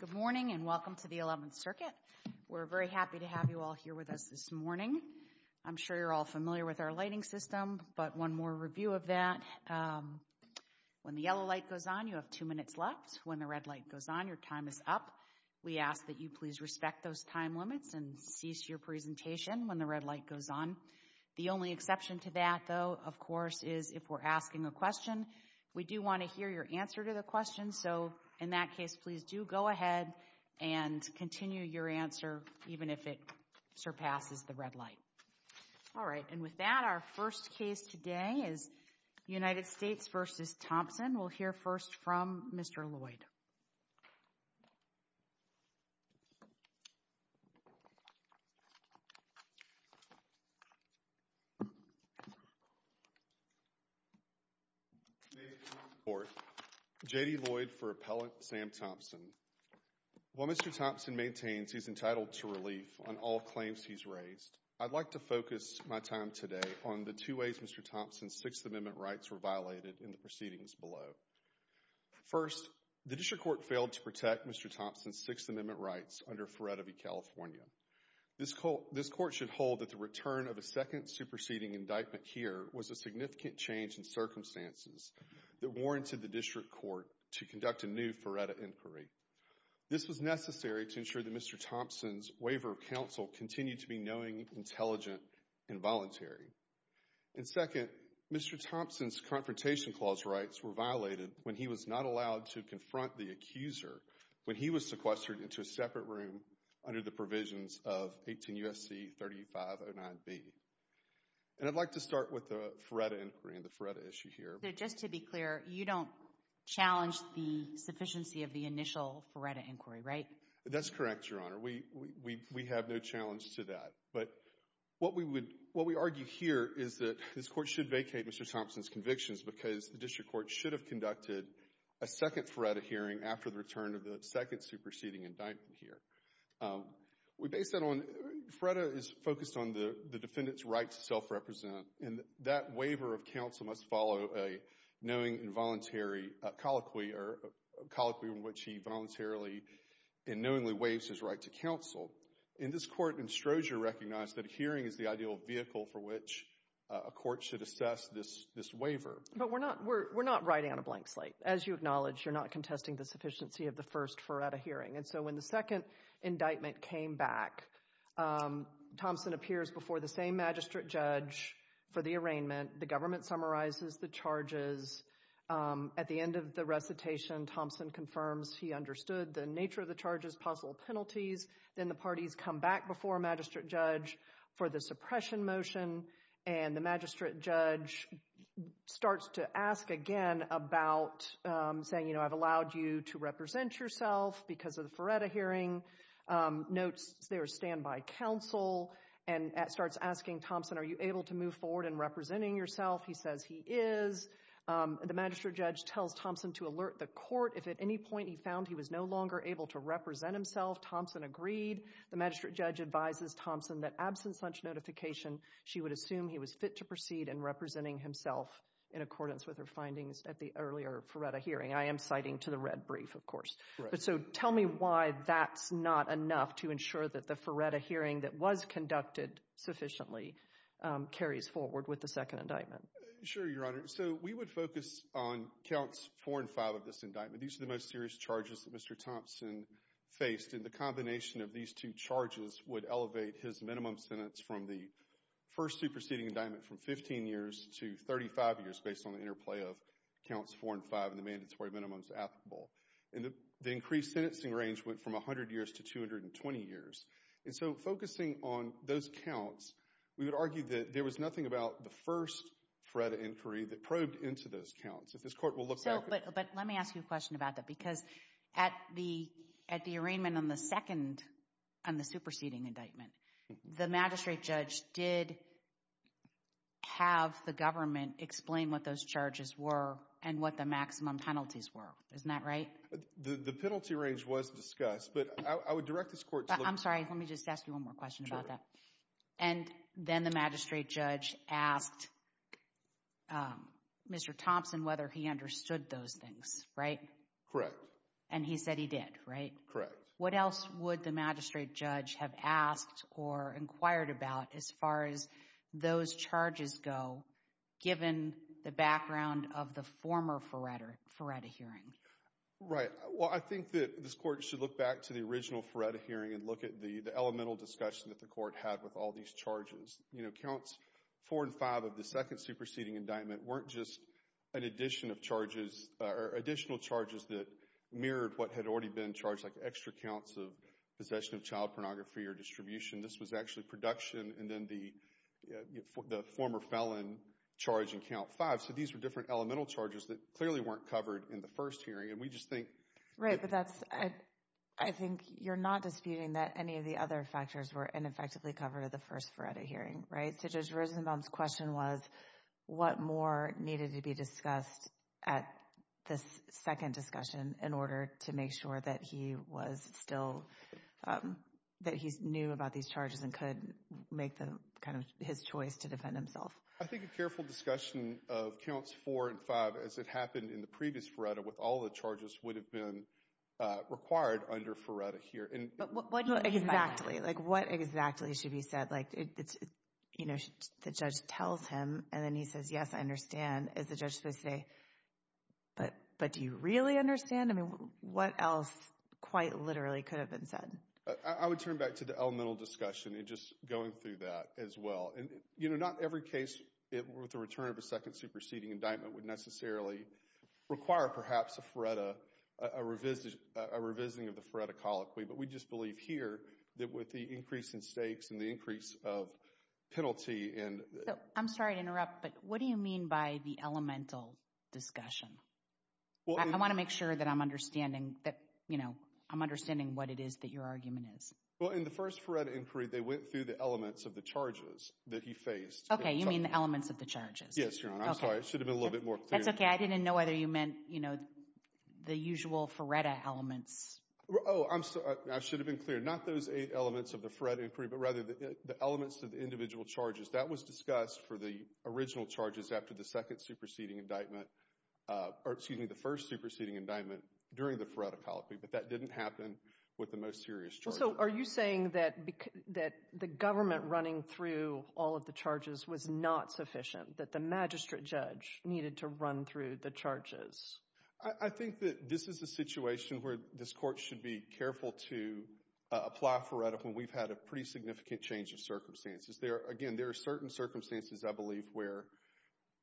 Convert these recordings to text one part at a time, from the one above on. Good morning and welcome to the 11th Circuit. We're very happy to have you all here with us this morning. I'm sure you're all familiar with our lighting system, but one more review of that. When the yellow light goes on, you have two minutes left. When the red light goes on, your time is up. We ask that you please respect those time limits and cease your presentation when the red light goes on. The only exception to that, though, of course, is if we're asking a question. We do want to hear your answer to the question, so in that case, please do go ahead and continue your answer even if it surpasses the red light. All right, and with that, our first case today is United States v. Thompson. We'll hear first from Mr. Lloyd. May it please the Court, J.D. Lloyd for Appellant Sam Thompson. While Mr. Thompson maintains he's entitled to relief on all claims he's raised, I'd like to focus my time today on the two ways Mr. Thompson's Sixth Amendment rights were violated in the proceedings below. First, the district court failed to protect Mr. Thompson's Sixth Amendment rights under Feretive California. This court should hold that the return of a second superseding indictment here was a significant change in circumstances that warranted the district court to conduct a new Feretive inquiry. This was necessary to ensure that Mr. Thompson's waiver of counsel continued to be knowing, intelligent, and voluntary. And second, Mr. Thompson's Confrontation Clause rights were violated when he was not allowed to confront the accuser when he was sequestered into a separate room under the provisions of 18 U.S.C. 3509B. And I'd like to start with the Feretta inquiry and the Feretta issue here. Just to be clear, you don't challenge the sufficiency of the initial Feretta inquiry, right? That's correct, Your Honor. We have no challenge to that. But what we argue here is that this court should vacate Mr. Thompson's convictions because the district court should have conducted a second Feretta hearing after the return of the second superseding indictment here. We base that on—Feretta is focused on the defendant's right to self-represent, and that waiver of counsel must follow a knowing and voluntary colloquy, or a colloquy in which he voluntarily and knowingly waives his right to counsel. And this court in Stroser recognized that a hearing is the ideal vehicle for which a court should assess this waiver. But we're not writing on a blank slate. As you acknowledge, you're not contesting the sufficiency of the first Feretta hearing. And so when the second indictment came back, Thompson appears before the same magistrate judge for the arraignment. The government summarizes the charges. At the end of the recitation, Thompson confirms he understood the nature of the charges, possible penalties. Then the parties come back before a magistrate judge for the suppression motion. And the magistrate judge starts to ask again about saying, you know, I've allowed you to represent yourself because of the Feretta hearing. Notes their standby counsel and starts asking Thompson, are you able to move forward in representing yourself? He says he is. The magistrate judge tells Thompson to alert the court if at any point he found he was no longer able to represent himself. Thompson agreed. The magistrate judge advises Thompson that absent such notification, she would assume he was fit to proceed in representing himself in accordance with her findings at the earlier Feretta hearing. I am citing to the red brief, of course. But so tell me why that's not enough to ensure that the Feretta hearing that was conducted sufficiently carries forward with the second indictment. Sure, Your Honor. So we would focus on counts four and five of this indictment. These are the most serious charges that Mr. Thompson faced, and the combination of these two charges would elevate his minimum sentence from the first superseding indictment from 15 years to 35 years based on the interplay of counts four and five and the mandatory minimums applicable. And the increased sentencing range went from 100 years to 220 years. And so focusing on those counts, we would argue that there was nothing about the first Feretta inquiry that probed into those counts. If this court will look back at it. But let me ask you a question about that, because at the, at the arraignment on the second, on the superseding indictment, the magistrate judge did have the government explain what those charges were and what the maximum penalties were. Isn't that right? The penalty range was discussed, but I would direct this court to look. I'm sorry. Let me just ask you one more question about that. And then the magistrate judge asked Mr. Thompson whether he understood those things, right? Correct. And he said he did, right? Correct. What else would the magistrate judge have asked or inquired about as far as those charges go given the background of the former Feretta, Feretta hearing? Right. Well, I think that this court should look back to the original Feretta hearing and look at the elemental discussion that the court had with all these charges. You know, counts four and five of the second superseding indictment weren't just an addition of charges or additional charges that mirrored what had already been charged, like extra counts of possession of child pornography or distribution. This was actually production and then the former felon charge in count five. So these were different elemental charges that clearly weren't covered in the first hearing. And we just think. Right. Right. But that's, I think you're not disputing that any of the other factors were ineffectively covered at the first Feretta hearing, right? So Judge Rosenbaum's question was what more needed to be discussed at this second discussion in order to make sure that he was still, that he knew about these charges and could make the kind of his choice to defend himself. I think a careful discussion of counts four and five as it happened in the previous Feretta with all the charges would have been required under Feretta here. But what exactly, like what exactly should be said, like it's, you know, the judge tells him and then he says, yes, I understand, is the judge supposed to say, but do you really understand? I mean, what else quite literally could have been said? I would turn back to the elemental discussion and just going through that as well. And you know, not every case with the return of a second superseding indictment would necessarily require perhaps a Feretta, a revisiting of the Feretta colloquy, but we just believe here that with the increase in stakes and the increase of penalty and... I'm sorry to interrupt, but what do you mean by the elemental discussion? I want to make sure that I'm understanding that, you know, I'm understanding what it is that your argument is. Well, in the first Feretta inquiry, they went through the elements of the charges that he faced. Okay. You mean the elements of the charges? Yes, Your Honor. I'm sorry. It should have been a little bit more clear. That's okay. I didn't know whether you meant, you know, the usual Feretta elements. Oh, I'm sorry. I should have been clear. Not those eight elements of the Feretta inquiry, but rather the elements of the individual charges. That was discussed for the original charges after the second superseding indictment, or excuse me, the first superseding indictment during the Feretta colloquy, but that didn't happen with the most serious charges. So are you saying that the government running through all of the charges was not sufficient, that the magistrate judge needed to run through the charges? I think that this is a situation where this court should be careful to apply Feretta when we've had a pretty significant change of circumstances. Again, there are certain circumstances, I believe, where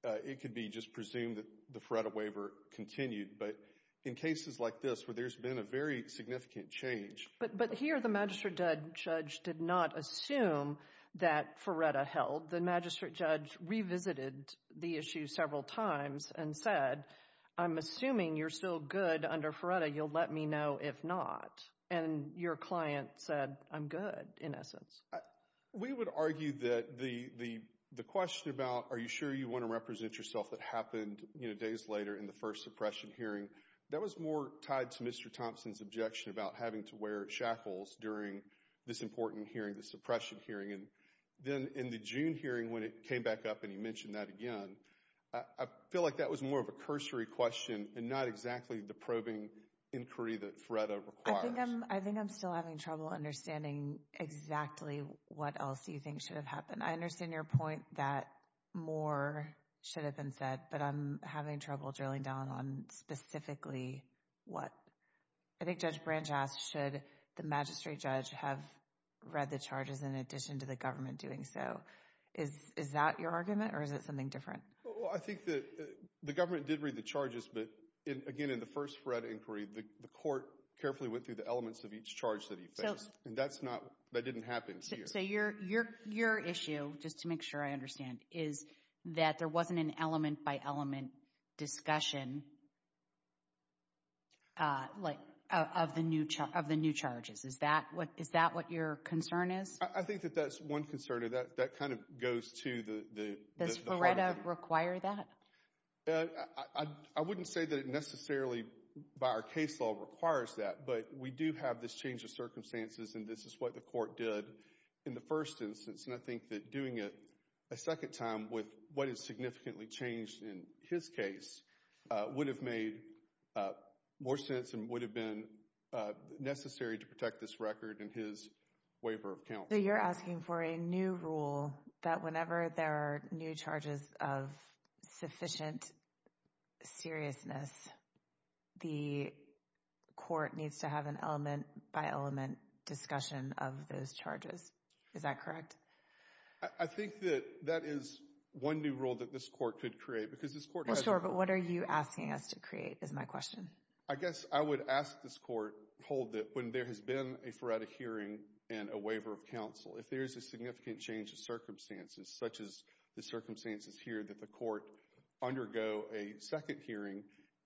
it could be just presumed that the Feretta waiver continued, but in cases like this where there's been a very significant change. But here, the magistrate judge did not assume that Feretta held. The magistrate judge revisited the issue several times and said, I'm assuming you're still good under Feretta. You'll let me know if not. And your client said, I'm good, in essence. We would argue that the question about are you sure you want to represent yourself that happened days later in the first suppression hearing, that was more tied to Mr. Thompson's objection about having to wear shackles during this important hearing, the suppression hearing. And then in the June hearing when it came back up and he mentioned that again, I feel like that was more of a cursory question and not exactly the probing inquiry that Feretta requires. I think I'm still having trouble understanding exactly what else you think should have happened. I understand your point that more should have been said, but I'm having trouble drilling down on specifically what. I think Judge Branch asked, should the magistrate judge have read the charges in addition to the government doing so? Is that your argument, or is it something different? I think that the government did read the charges, but again, in the first Feretta inquiry, the court carefully went through the elements of each charge that he faced, and that didn't happen here. So your issue, just to make sure I understand, is that there wasn't an element-by-element discussion of the new charges. Is that what your concern is? I think that that's one concern, or that kind of goes to the part of the... Does Feretta require that? I wouldn't say that it necessarily, by our case law, requires that, but we do have this change of circumstances, and this is what the court did in the first instance. I think that doing it a second time with what is significantly changed in his case would have made more sense and would have been necessary to protect this record and his waiver of counsel. You're asking for a new rule that whenever there are new charges of sufficient seriousness, the court needs to have an element-by-element discussion of those charges. Is that correct? I think that that is one new rule that this court could create, because this court has... Sure, but what are you asking us to create, is my question. I guess I would ask this court, hold that when there has been a Feretta hearing and a waiver of counsel, if there is a significant change of circumstances, such as the circumstances here that the court undergo a second hearing,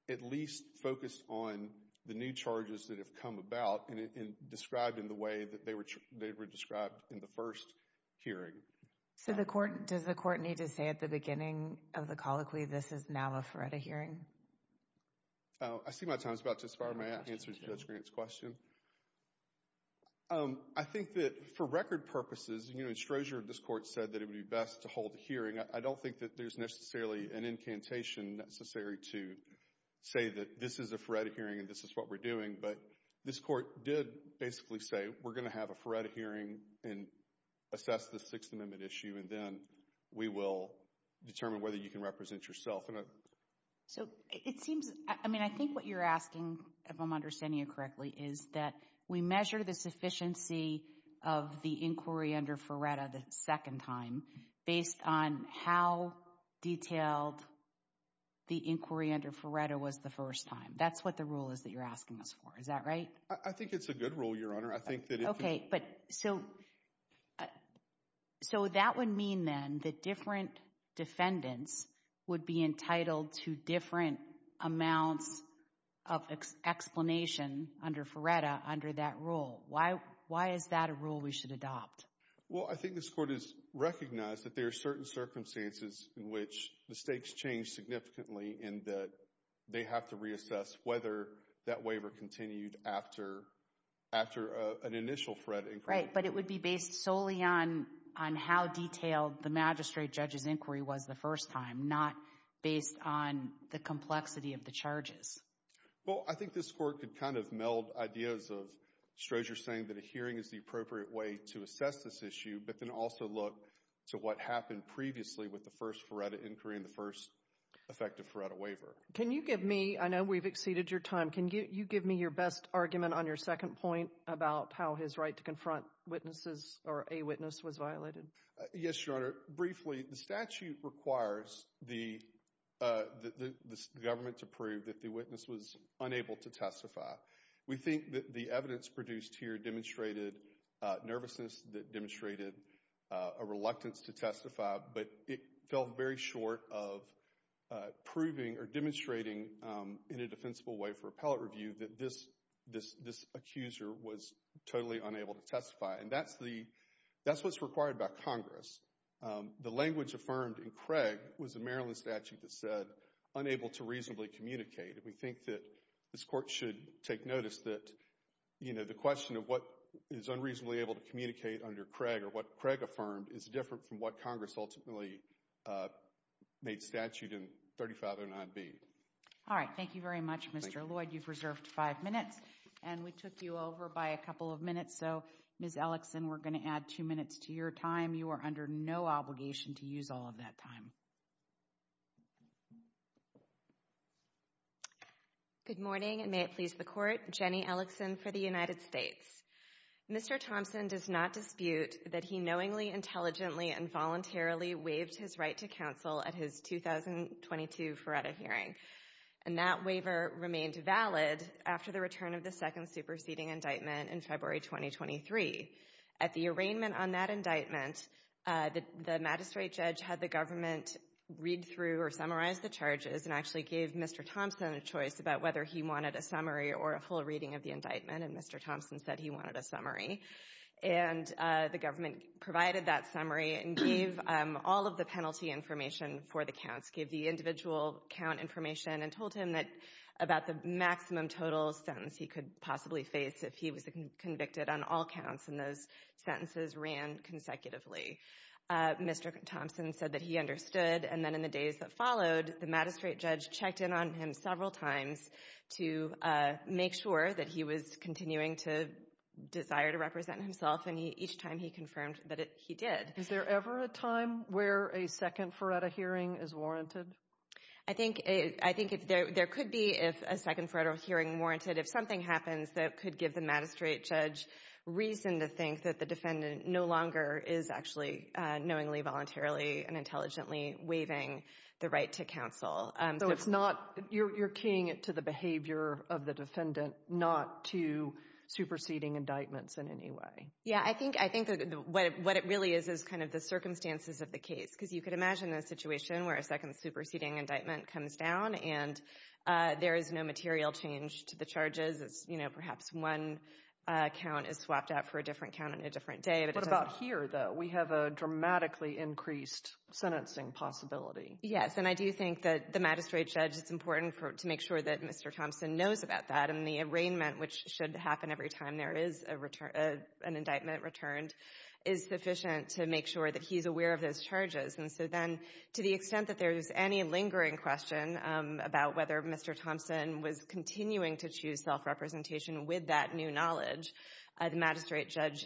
at least focus on the new charges that have come about and described in the way that they were described in the first hearing. So, does the court need to say at the beginning of the colloquy, this is now a Feretta hearing? I see my time is about to expire, may I answer Judge Grant's question? I think that for record purposes, you know, in Strozier, this court said that it would be best to hold a hearing. I don't think that there's necessarily an incantation necessary to say that this is a Feretta hearing and this is what we're doing, but this court did basically say we're going to have a Feretta hearing and assess the Sixth Amendment issue and then we will determine whether you can represent yourself. So it seems, I mean, I think what you're asking, if I'm understanding you correctly, is that we measure the sufficiency of the inquiry under Feretta the second time based on how detailed the inquiry under Feretta was the first time. That's what the rule is that you're asking us for, is that right? I think it's a good rule, Your Honor. I think that if... Okay, but so that would mean then that different defendants would be entitled to different amounts of explanation under Feretta under that rule. Why is that a rule we should adopt? Well, I think this court has recognized that there are certain circumstances in which the stakes change significantly in that they have to reassess whether that waiver continued after an initial Feretta inquiry. Right, but it would be based solely on how detailed the magistrate judge's inquiry was the first time, not based on the complexity of the charges. Well, I think this court could kind of meld ideas of Strozier saying that a hearing is the appropriate way to assess this issue, but then also look to what happened previously with the first Feretta inquiry and the first effective Feretta waiver. Can you give me... I know we've exceeded your time. Can you give me your best argument on your second point about how his right to confront witnesses or a witness was violated? Yes, Your Honor. Briefly, the statute requires the government to prove that the witness was unable to testify. We think that the evidence produced here demonstrated nervousness, that demonstrated a reluctance to testify, but it fell very short of proving or demonstrating in a defensible way for appellate review that this accuser was totally unable to testify. And that's what's required by Congress. The language affirmed in Craig was a Maryland statute that said, unable to reasonably communicate. We think that this court should take notice that, you know, the question of what is unreasonably able to communicate under Craig or what Craig affirmed is different from what Congress ultimately made statute in 3509B. All right. Thank you very much, Mr. Lloyd. Thank you. You've reserved five minutes, and we took you over by a couple of minutes, so, Ms. Ellickson, we're going to add two minutes to your time. You are under no obligation to use all of that time. Good morning, and may it please the Court. Jenny Ellickson for the United States. Mr. Thompson does not dispute that he knowingly, intelligently, and voluntarily waived his right to counsel at his 2022 Feretta hearing, and that waiver remained valid after the return of the second superseding indictment in February 2023. At the arraignment on that indictment, the magistrate judge had the government read through or summarize the charges and actually gave Mr. Thompson a choice about whether he wanted a summary or a full reading of the indictment, and Mr. Thompson said he wanted a summary. And the government provided that summary and gave all of the penalty information for the counts, gave the individual count information, and told him about the maximum total sentence he could possibly face if he was convicted on all counts, and those sentences ran consecutively. Mr. Thompson said that he understood, and then in the days that followed, the magistrate judge checked in on him several times to make sure that he was continuing to desire to represent himself, and each time he confirmed that he did. Is there ever a time where a second Feretta hearing is warranted? I think there could be, if a second Feretta hearing warranted, if something happens that could give the magistrate judge reason to think that the defendant no longer is actually knowingly, voluntarily, and intelligently waiving the right to counsel. So it's not, you're keying it to the behavior of the defendant, not to superseding indictments in any way. Yeah, I think what it really is is kind of the circumstances of the case, because you could imagine a situation where a second superseding indictment comes down and there is no material change to the charges, it's, you know, perhaps one count is swapped out for a different count on a different day. What about here, though? We have a dramatically increased sentencing possibility. Yes, and I do think that the magistrate judge, it's important to make sure that Mr. Thompson knows about that, and the arraignment, which should happen every time there is an indictment returned, is sufficient to make sure that he's aware of those charges. And so then, to the extent that there's any lingering question about whether Mr. Thompson was continuing to choose self-representation with that new knowledge, the magistrate judge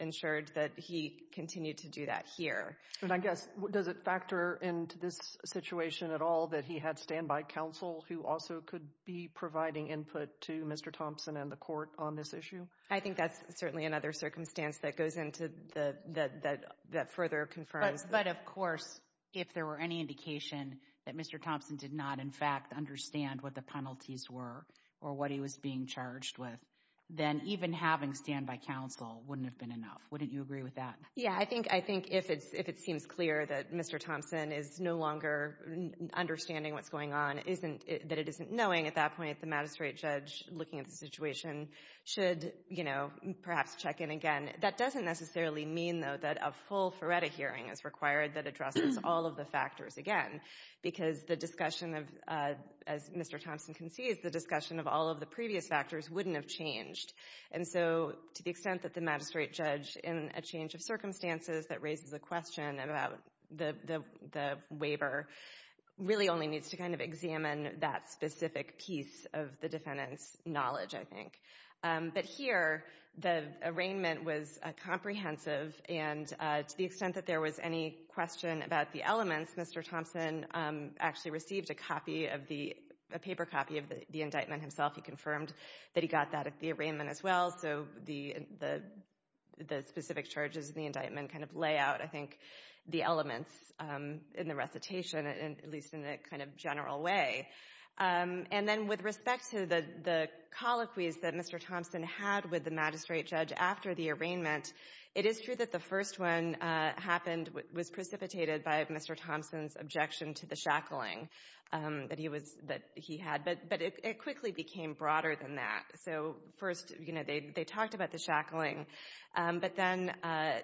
ensured that he continued to do that here. And I guess, does it factor into this situation at all that he had standby counsel who also could be providing input to Mr. Thompson and the court on this issue? I think that's certainly another circumstance that goes into the, that further confirms that. But, of course, if there were any indication that Mr. Thompson did not, in fact, understand what the penalties were or what he was being charged with, then even having standby counsel wouldn't have been enough. Wouldn't you agree with that? Yeah. I think, I think if it's, if it seems clear that Mr. Thompson is no longer understanding what's going on, isn't, that it isn't knowing at that point, the magistrate judge, looking at the situation, should, you know, perhaps check in again. That doesn't necessarily mean, though, that a full Ferretta hearing is required that addresses all of the factors again, because the discussion of, as Mr. Thompson concedes, the discussion of all of the previous factors wouldn't have changed. And so, to the extent that the magistrate judge, in a change of circumstances that raises a question about the, the waiver, really only needs to kind of examine that specific piece of the defendant's knowledge, I think. But here, the arraignment was comprehensive, and to the extent that there was any question about the elements, Mr. Thompson actually received a copy of the, a paper copy of the indictment himself. He confirmed that he got that at the arraignment as well, so the, the, the specific charges in the indictment kind of lay out, I think, the elements in the recitation, at least in a kind of general way. And then, with respect to the, the colloquies that Mr. Thompson had with the magistrate judge after the arraignment, it is true that the first one happened, was precipitated by Mr. Thompson's objection to the shackling that he was, that he had. But, but it, it quickly became broader than that. So, first, you know, they, they talked about the shackling, but then,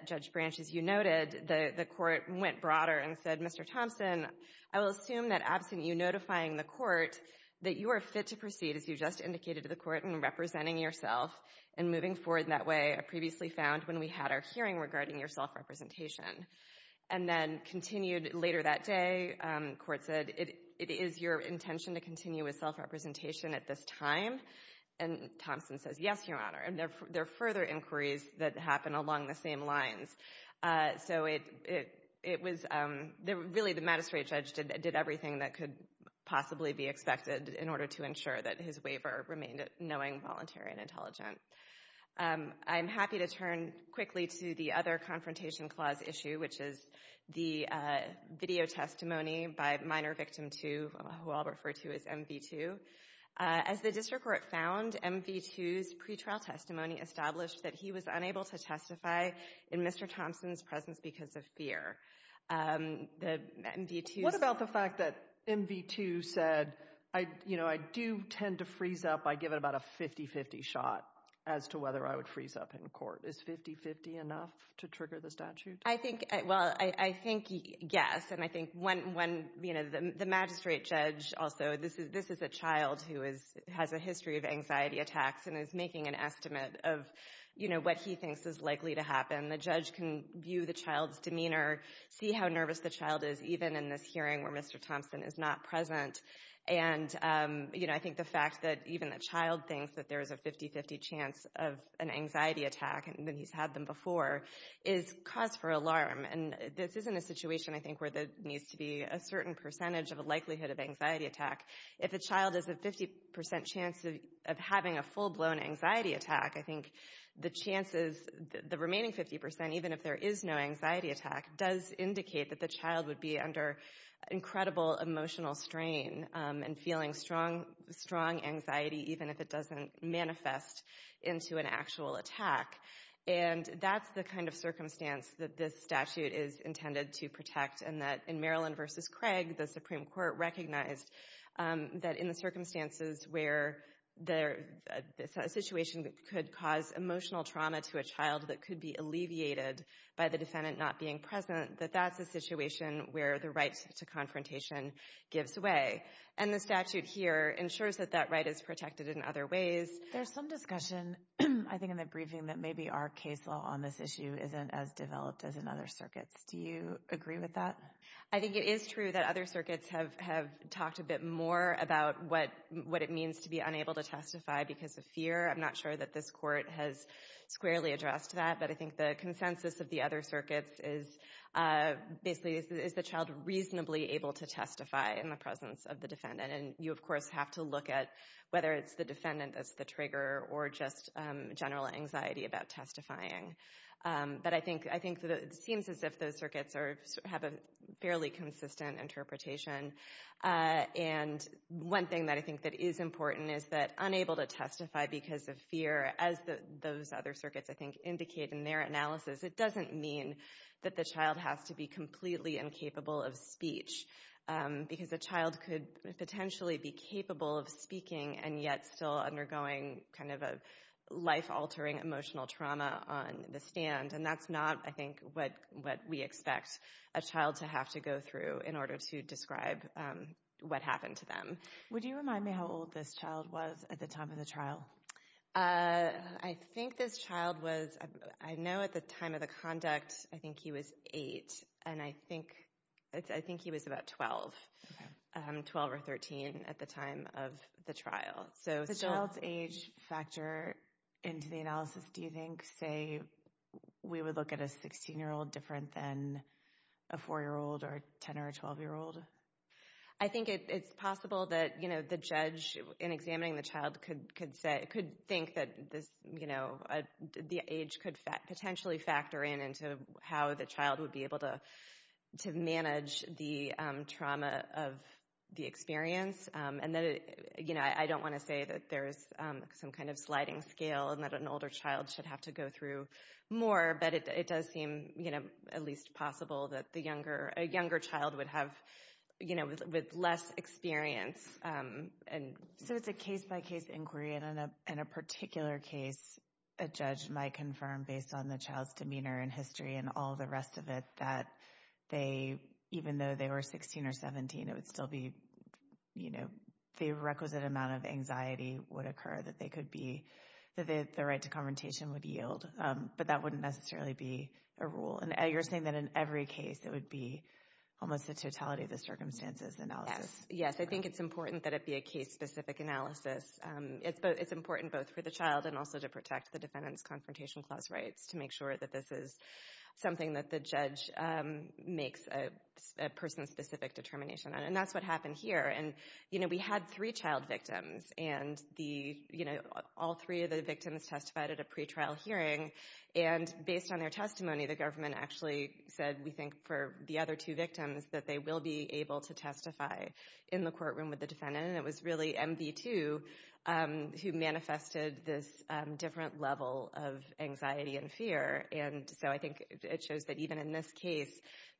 Judge Branch, as you noted, the, the court went broader and said, Mr. Thompson, I will assume that absent you notifying the court that you are fit to proceed, as you just indicated to the court, in representing yourself and moving forward in that way, previously found when we had our hearing regarding your self-representation. And then, continued later that day, court said, it, it is your intention to continue with self-representation at this time? And Thompson says, yes, Your Honor. And there, there are further inquiries that happen along the same lines. So it, it, it was, really, the magistrate judge did, did everything that could possibly be expected in order to ensure that his waiver remained knowing, voluntary, and intelligent. I'm happy to turn quickly to the other Confrontation Clause issue, which is the video testimony by Minor Victim 2, who I'll refer to as MV2. As the district court found, MV2's pretrial testimony established that he was unable to testify in Mr. Thompson's presence because of fear. The MV2's... What about the fact that MV2 said, I, you know, I do tend to freeze up, I give it about a 50-50 shot as to whether I would freeze up in court. Is 50-50 enough to trigger the statute? I think, well, I, I think, yes. And I think when, when, you know, the magistrate judge also, this is, this is a child who is, has a history of anxiety attacks and is making an estimate of, you know, what he thinks is likely to happen. The judge can view the child's demeanor, see how nervous the child is, even in this hearing where Mr. Thompson is not present. And, you know, I think the fact that even the child thinks that there is a 50-50 chance of an anxiety attack, and that he's had them before, is cause for alarm. And this isn't a situation, I think, where there needs to be a certain percentage of a likelihood of anxiety attack. If a child has a 50% chance of having a full-blown anxiety attack, I think the chances, the remaining 50%, even if there is no anxiety attack, does indicate that the child would be under incredible emotional strain and feeling strong, strong anxiety, even if it doesn't manifest into an actual attack. And that's the kind of circumstance that this statute is intended to protect, and that in Maryland v. Craig, the Supreme Court recognized that in the circumstances where there, a situation that could cause emotional trauma to a child that could be alleviated by the defendant not being present, that that's a situation where the right to confrontation gives way. And the statute here ensures that that right is protected in other ways. There's some discussion, I think, in the briefing that maybe our case law on this issue isn't as developed as in other circuits. Do you agree with that? I think it is true that other circuits have talked a bit more about what it means to be unable to testify because of fear. I'm not sure that this Court has squarely addressed that, but I think the consensus of the other circuits is basically, is the child reasonably able to testify in the presence of the defendant? And you, of course, have to look at whether it's the defendant that's the trigger, or just general anxiety about testifying. But I think that it seems as if those circuits have a fairly consistent interpretation. And one thing that I think that is important is that unable to testify because of fear, as those other circuits, I think, indicate in their analysis, it doesn't mean that the child has to be completely incapable of speech. Because a child could potentially be capable of speaking and yet still undergoing kind of a life-altering emotional trauma on the stand. And that's not, I think, what we expect a child to have to go through in order to describe what happened to them. Would you remind me how old this child was at the time of the trial? I think this child was, I know at the time of the conduct, I think he was 8. And I think he was about 12, 12 or 13 at the time of the trial. So the child's age factor into the analysis, do you think, say, we would look at a 16-year-old different than a 4-year-old or a 10- or a 12-year-old? I think it's possible that the judge, in examining the child, could think that the age could potentially factor in into how the child would be able to manage the trauma of the experience. And I don't want to say that there's some kind of sliding scale and that an older child should have to go through more. But it does seem at least possible that a younger child would have less experience. So it's a case-by-case inquiry. And in a particular case, a judge might confirm, based on the child's demeanor and history and all the rest of it, that even though they were 16 or 17, it would still be, you know, the requisite amount of anxiety would occur, that the right to confrontation would yield. But that wouldn't necessarily be a rule. And you're saying that in every case, it would be almost the totality of the circumstances analysis. Yes. I think it's important that it be a case-specific analysis. It's important both for the child and also to protect the Defendant's Confrontation Clause rights to make sure that this is something that the judge makes a person-specific determination on. And that's what happened here. And, you know, we had three child victims. And the, you know, all three of the victims testified at a pretrial hearing. And based on their testimony, the government actually said we think for the other two victims that they will be able to testify in the courtroom with the Defendant. And it was really MV2 who manifested this different level of anxiety and fear. And so I think it shows that even in this case,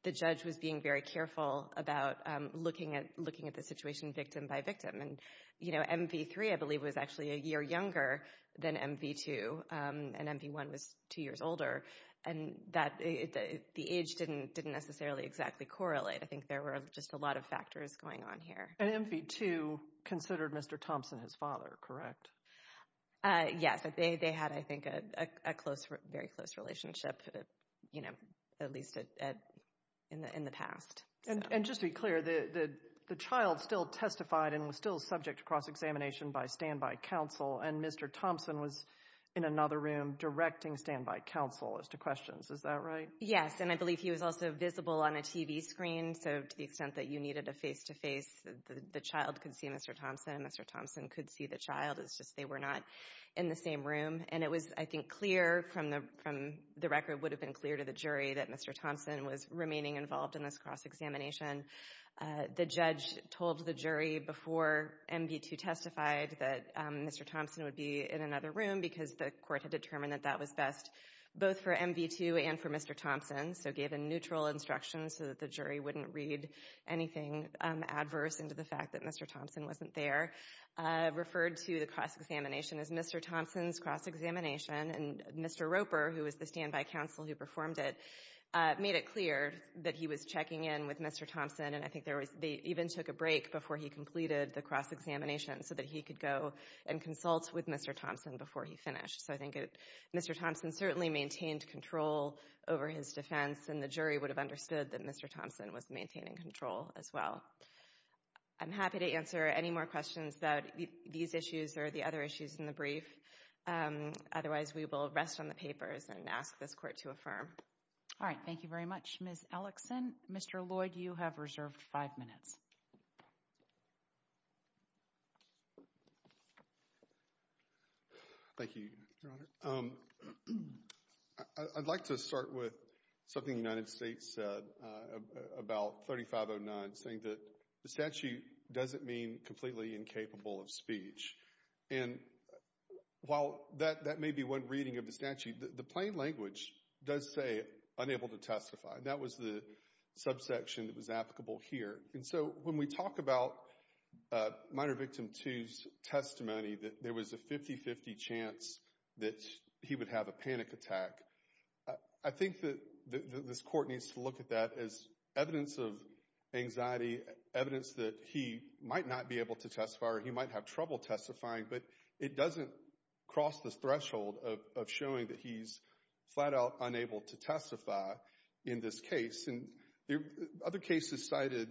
the judge was being very careful about looking at the situation victim by victim. And, you know, MV3, I believe, was actually a year younger than MV2. And MV1 was two years older. And the age didn't necessarily exactly correlate. I think there were just a lot of factors going on here. And MV2 considered Mr. Thompson his father, correct? Yes. They had, I think, a very close relationship, you know, at least in the past. And just to be clear, the child still testified and was still subject to cross-examination by standby counsel. And Mr. Thompson was in another room directing standby counsel as to questions. Is that right? Yes. And I believe he was also visible on a TV screen. So to the extent that you needed a face-to-face, the child could see Mr. Thompson. Mr. Thompson could see the child. It's just they were not in the same room. And it was, I think, clear from the record would have been clear to the jury that Mr. Thompson was remaining involved in this cross-examination. The judge told the jury before MV2 testified that Mr. Thompson would be in another room because the court had determined that that was best both for MV2 and for Mr. Thompson. So gave a neutral instruction so that the jury wouldn't read anything adverse into the fact that Mr. Thompson wasn't there. Referred to the cross-examination as Mr. Thompson's cross-examination. And Mr. Roper, who was the standby counsel who performed it, made it clear that he was checking in with Mr. Thompson. And I think they even took a break before he completed the cross-examination so that he could go and consult with Mr. Thompson before he finished. So I think Mr. Thompson certainly maintained control over his defense, and the jury would have understood that Mr. Thompson was maintaining control as well. I'm happy to answer any more questions about these issues or the other issues in the brief. Otherwise, we will rest on the papers and ask this court to affirm. All right. Thank you very much, Ms. Ellickson. Mr. Lloyd, you have reserved five minutes. Thank you, Your Honor. I'd like to start with something the United States said about 3509, saying that the statute doesn't mean completely incapable of speech. And while that may be one reading of the statute, the plain language does say unable to testify. That was the subsection that was applicable here. And so when we talk about minor victim two's testimony, that there was a 50-50 chance that he would have a panic attack, I think that this court needs to look at that as evidence of anxiety, evidence that he might not be able to testify or he might have trouble testifying. But it doesn't cross this threshold of showing that he's flat out unable to testify in this case. And other cases cited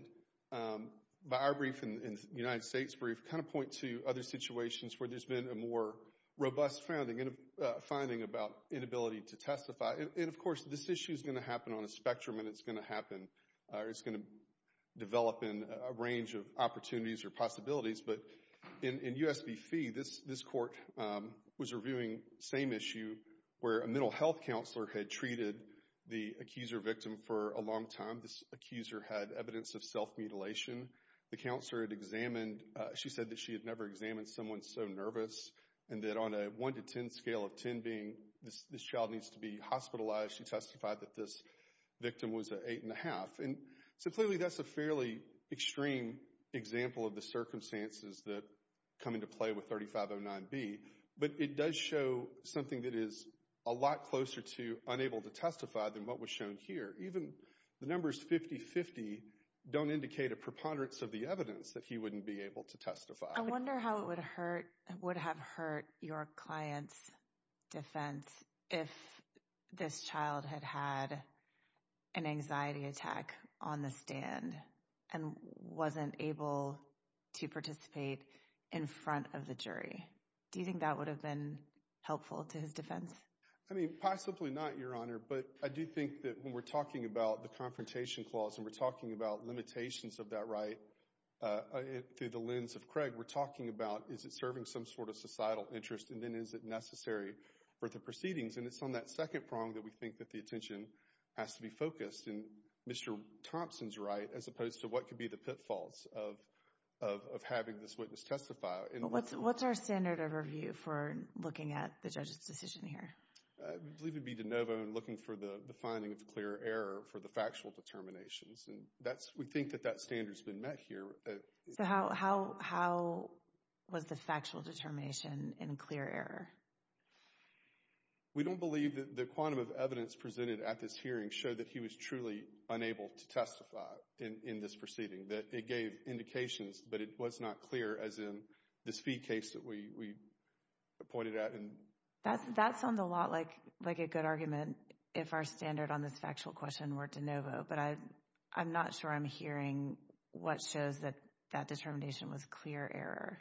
by our brief and the United States brief kind of point to other situations where there's been a more robust finding about inability to testify. And of course, this issue is going to happen on a spectrum and it's going to develop in a range of opportunities or possibilities. But in US v. Fee, this court was reviewing the same issue where a mental health counselor had treated the accuser victim for a long time. This accuser had evidence of self-mutilation. The counselor had examined, she said that she had never examined someone so nervous and that on a 1-10 scale of 10 being this child needs to be hospitalized, she testified that this victim was an 8-1⁄2. And so clearly that's a fairly extreme example of the circumstances that come into play with 3509B. But it does show something that is a lot closer to unable to testify than what was shown here. Even the numbers 50-50 don't indicate a preponderance of the evidence that he wouldn't be able to testify. I wonder how it would have hurt your client's defense if this child had had an anxiety attack on the stand and wasn't able to participate in front of the jury. Do you think that would have been helpful to his defense? I mean, possibly not, Your Honor. But I do think that when we're talking about the confrontation clause and we're talking about limitations of that right through the lens of Craig, we're talking about is it serving some sort of societal interest and then is it necessary for the proceedings. And it's on that second prong that we think that the attention has to be focused in Mr. Thompson's right as opposed to what could be the pitfalls of having this witness testify. What's our standard of review for looking at the judge's decision here? I believe it would be de novo and looking for the finding of clear error for the factual determinations. And we think that that standard's been met here. How was the factual determination in clear error? We don't believe that the quantum of evidence presented at this hearing showed that he was truly unable to testify in this proceeding, that it gave indications but it was not clear as in the speed case that we pointed at. That sounds a lot like a good argument if our standard on this factual question were de novo. But I'm not sure I'm hearing what shows that that determination was clear error.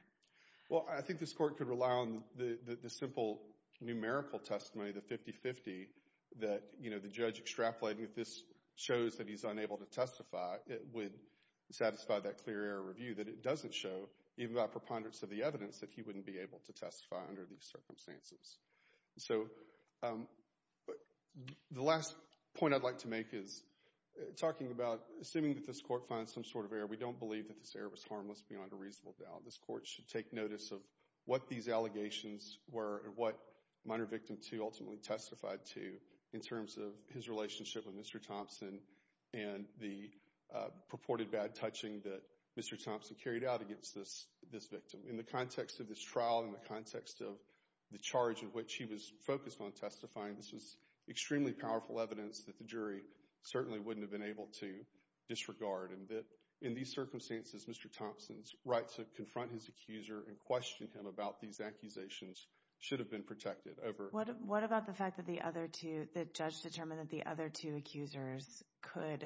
Well, I think this court could rely on the simple numerical testimony, the 50-50 that, you know, the judge extrapolated this shows that he's unable to testify, it would satisfy that clear error review that it doesn't show even by preponderance of the evidence that he wouldn't be able to testify under these circumstances. So the last point I'd like to make is talking about assuming that this court finds some sort of error, we don't believe that this error was harmless beyond a reasonable doubt. This court should take notice of what these allegations were and what minor victim two ultimately testified to in terms of his relationship with Mr. Thompson and the purported bad touching that Mr. Thompson carried out against this victim. In the context of this trial, in the context of the charge of which he was focused on testifying, this is extremely powerful evidence that the jury certainly wouldn't have been able to disregard. And that in these circumstances, Mr. Thompson's right to confront his accuser and question him about these accusations should have been protected over. What about the fact that the other two, the judge determined that the other two accusers could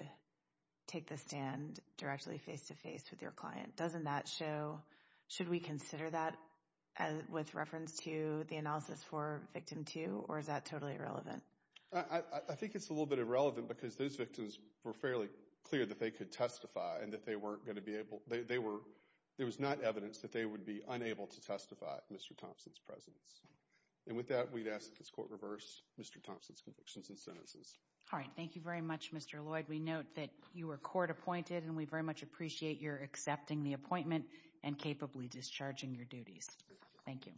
take the stand directly face to face with your client? Doesn't that show, should we consider that with reference to the analysis for victim two or is that totally irrelevant? I think it's a little bit irrelevant because those victims were fairly clear that they could testify and that they weren't going to be able, they were, there was not evidence that they would be unable to testify at Mr. Thompson's presence. And with that, we'd ask that this court reverse Mr. Thompson's convictions and sentences. All right. Thank you very much, Mr. Lloyd. We note that you were court appointed and we very much appreciate your accepting the appointment and capably discharging your duties. Thank you.